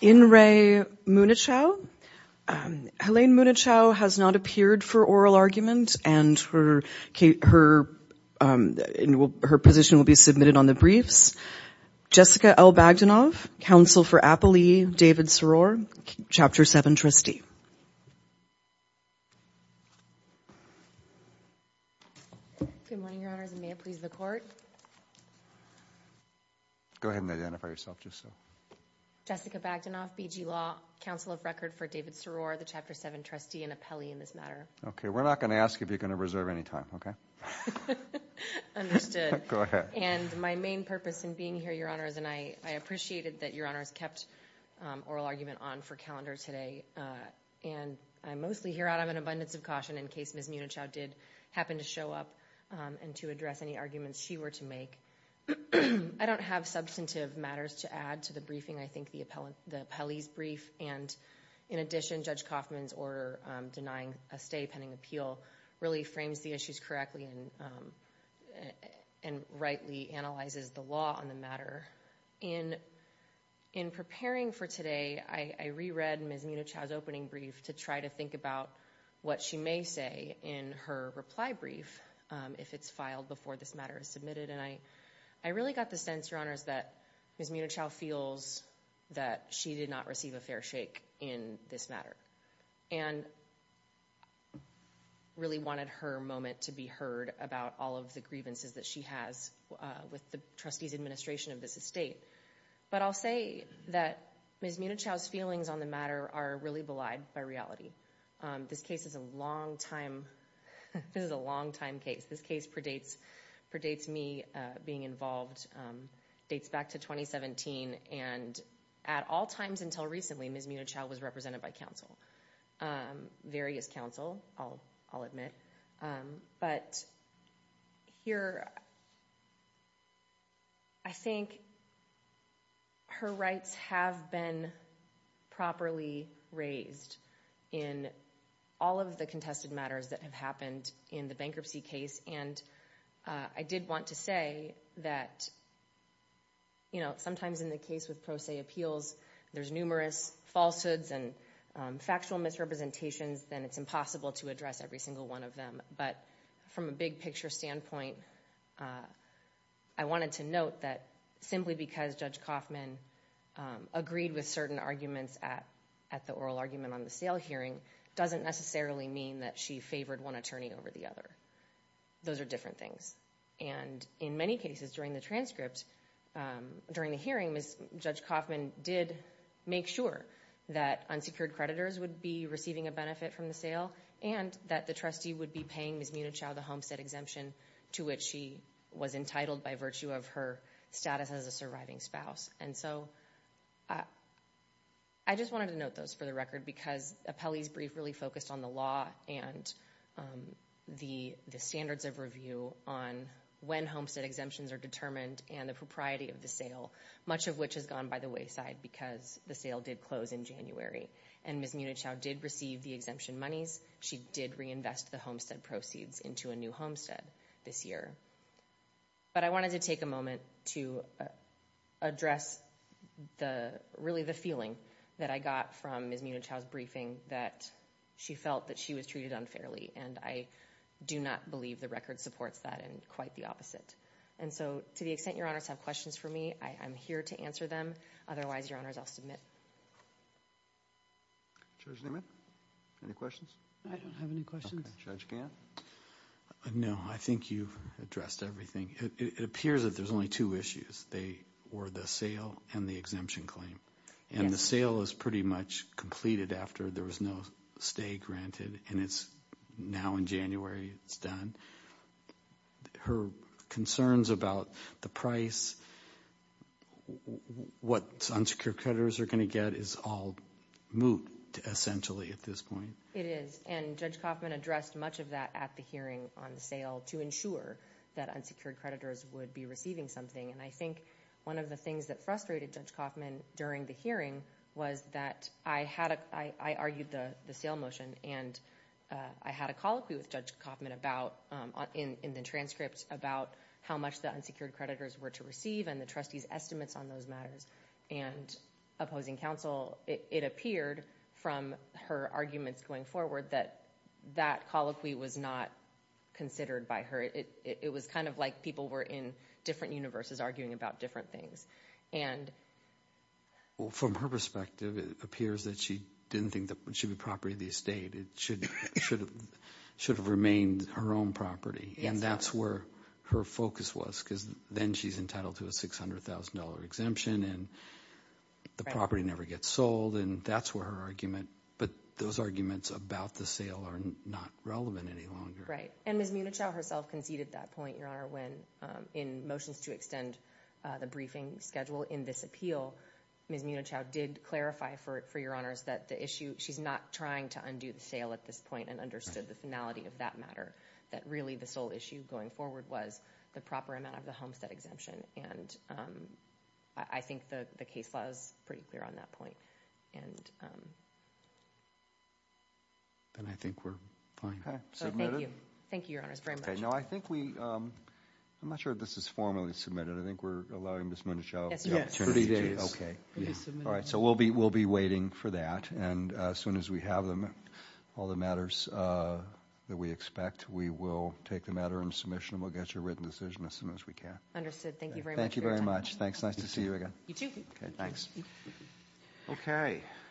In re Meunnichow, Helene Meunnichow has not appeared for oral argument and her position will be submitted on the briefs. Jessica L. Bagdanov, counsel for Appelee, David Soror, Chapter 7 trustee. Jessica Bagdanov, BG Law, counsel of record for David Soror, the Chapter 7 trustee and Appellee in this matter. Okay, we're not going to ask if you're going to reserve any time, okay? Understood. And my main purpose in being here, Your Honors, and I appreciated that Your Honors kept oral argument on for calendar today and I'm mostly here out of an abundance of caution in case Ms. Meunnichow did happen to show up and to address any arguments she were to make. I don't have substantive matters to add to the briefing, I think the Appellee's brief and in addition, Judge Kaufman's order denying a stay pending appeal really frames the issues correctly and rightly analyzes the law on the matter. In preparing for today, I reread Ms. Meunnichow's opening brief to try to think about what she may say in her reply brief if it's filed before this matter is submitted and I really got the sense, Your Honors, that Ms. Meunnichow feels that she did not receive a fair shake in this matter and really wanted her moment to be heard about all of the grievances that she has with the Trustee's administration of this estate. But I'll say that Ms. Meunnichow's feelings on the matter are really belied by reality. This case is a long time, this is a long time case. This case predates me being involved, dates back to 2017 and at all times until recently Ms. Meunnichow was represented by counsel, various counsel, I'll admit. But here, I think her rights have been properly raised in all of the contested matters that have happened in the bankruptcy case and I did want to say that sometimes in the case with pro se appeals, there's numerous falsehoods and factual misrepresentations and it's impossible to address every single one of them. But from a big picture standpoint, I wanted to note that simply because Judge Koffman agreed with certain arguments at the oral argument on the sale hearing doesn't necessarily mean that she favored one attorney over the other. Those are different things and in many cases during the transcript, during the hearing, Judge Koffman did make sure that unsecured creditors would be receiving a benefit from the sale and that the trustee would be paying Ms. Meunnichow the homestead exemption to which she was entitled by virtue of her status as a surviving spouse. And so, I just wanted to note those for the record because Appelli's brief really focused on the law and the standards of review on when homestead exemptions are determined and the propriety of the sale, much of which has gone by the wayside because the sale did close in January and Ms. Meunnichow did receive the exemption monies. She did reinvest the homestead proceeds into a new homestead this year. But I wanted to take a moment to address really the feeling that I got from Ms. Meunnichow's briefing that she felt that she was treated unfairly and I do not believe the record supports that and quite the opposite. And so, to the extent your honors have questions for me, I'm here to answer them, otherwise your honors, I'll submit. Judge Niemann, any questions? I don't have any questions. Judge Gantt? No, I think you've addressed everything. It appears that there's only two issues, they were the sale and the exemption claim. And the sale is pretty much completed after there was no stay granted and it's now in January it's done. And her concerns about the price, what unsecured creditors are going to get, is all moot essentially at this point. It is. And Judge Kaufman addressed much of that at the hearing on the sale to ensure that unsecured creditors would be receiving something. And I think one of the things that frustrated Judge Kaufman during the hearing was that I argued the sale motion and I had a colloquy with Judge Kaufman in the transcript about how much the unsecured creditors were to receive and the trustee's estimates on those matters and opposing counsel. It appeared from her arguments going forward that that colloquy was not considered by her. It was kind of like people were in different universes arguing about different things. From her perspective, it appears that she didn't think it should be property of the It should have remained her own property and that's where her focus was because then she's entitled to a $600,000 exemption and the property never gets sold and that's where her argument but those arguments about the sale are not relevant any longer. And Ms. Munichow herself conceded that point, Your Honor, when in motions to extend the briefing schedule in this appeal, Ms. Munichow did clarify, for Your Honors, that the issue she's not trying to undo the sale at this point and understood the finality of that matter. That really the sole issue going forward was the proper amount of the homestead exemption and I think the case law is pretty clear on that point. And I think we're fine. Thank you. Thank you, Your Honors, very much. Now I think we, I'm not sure if this is formally submitted, I think we're allowing Ms. Munichow Yes. 30 days. Okay. So we'll be waiting for that and as soon as we have them, all the matters that we expect, we will take the matter into submission and we'll get you a written decision as soon as we can. Understood. Thank you very much for your time. Thank you very much. Nice to see you again. You too. Thanks.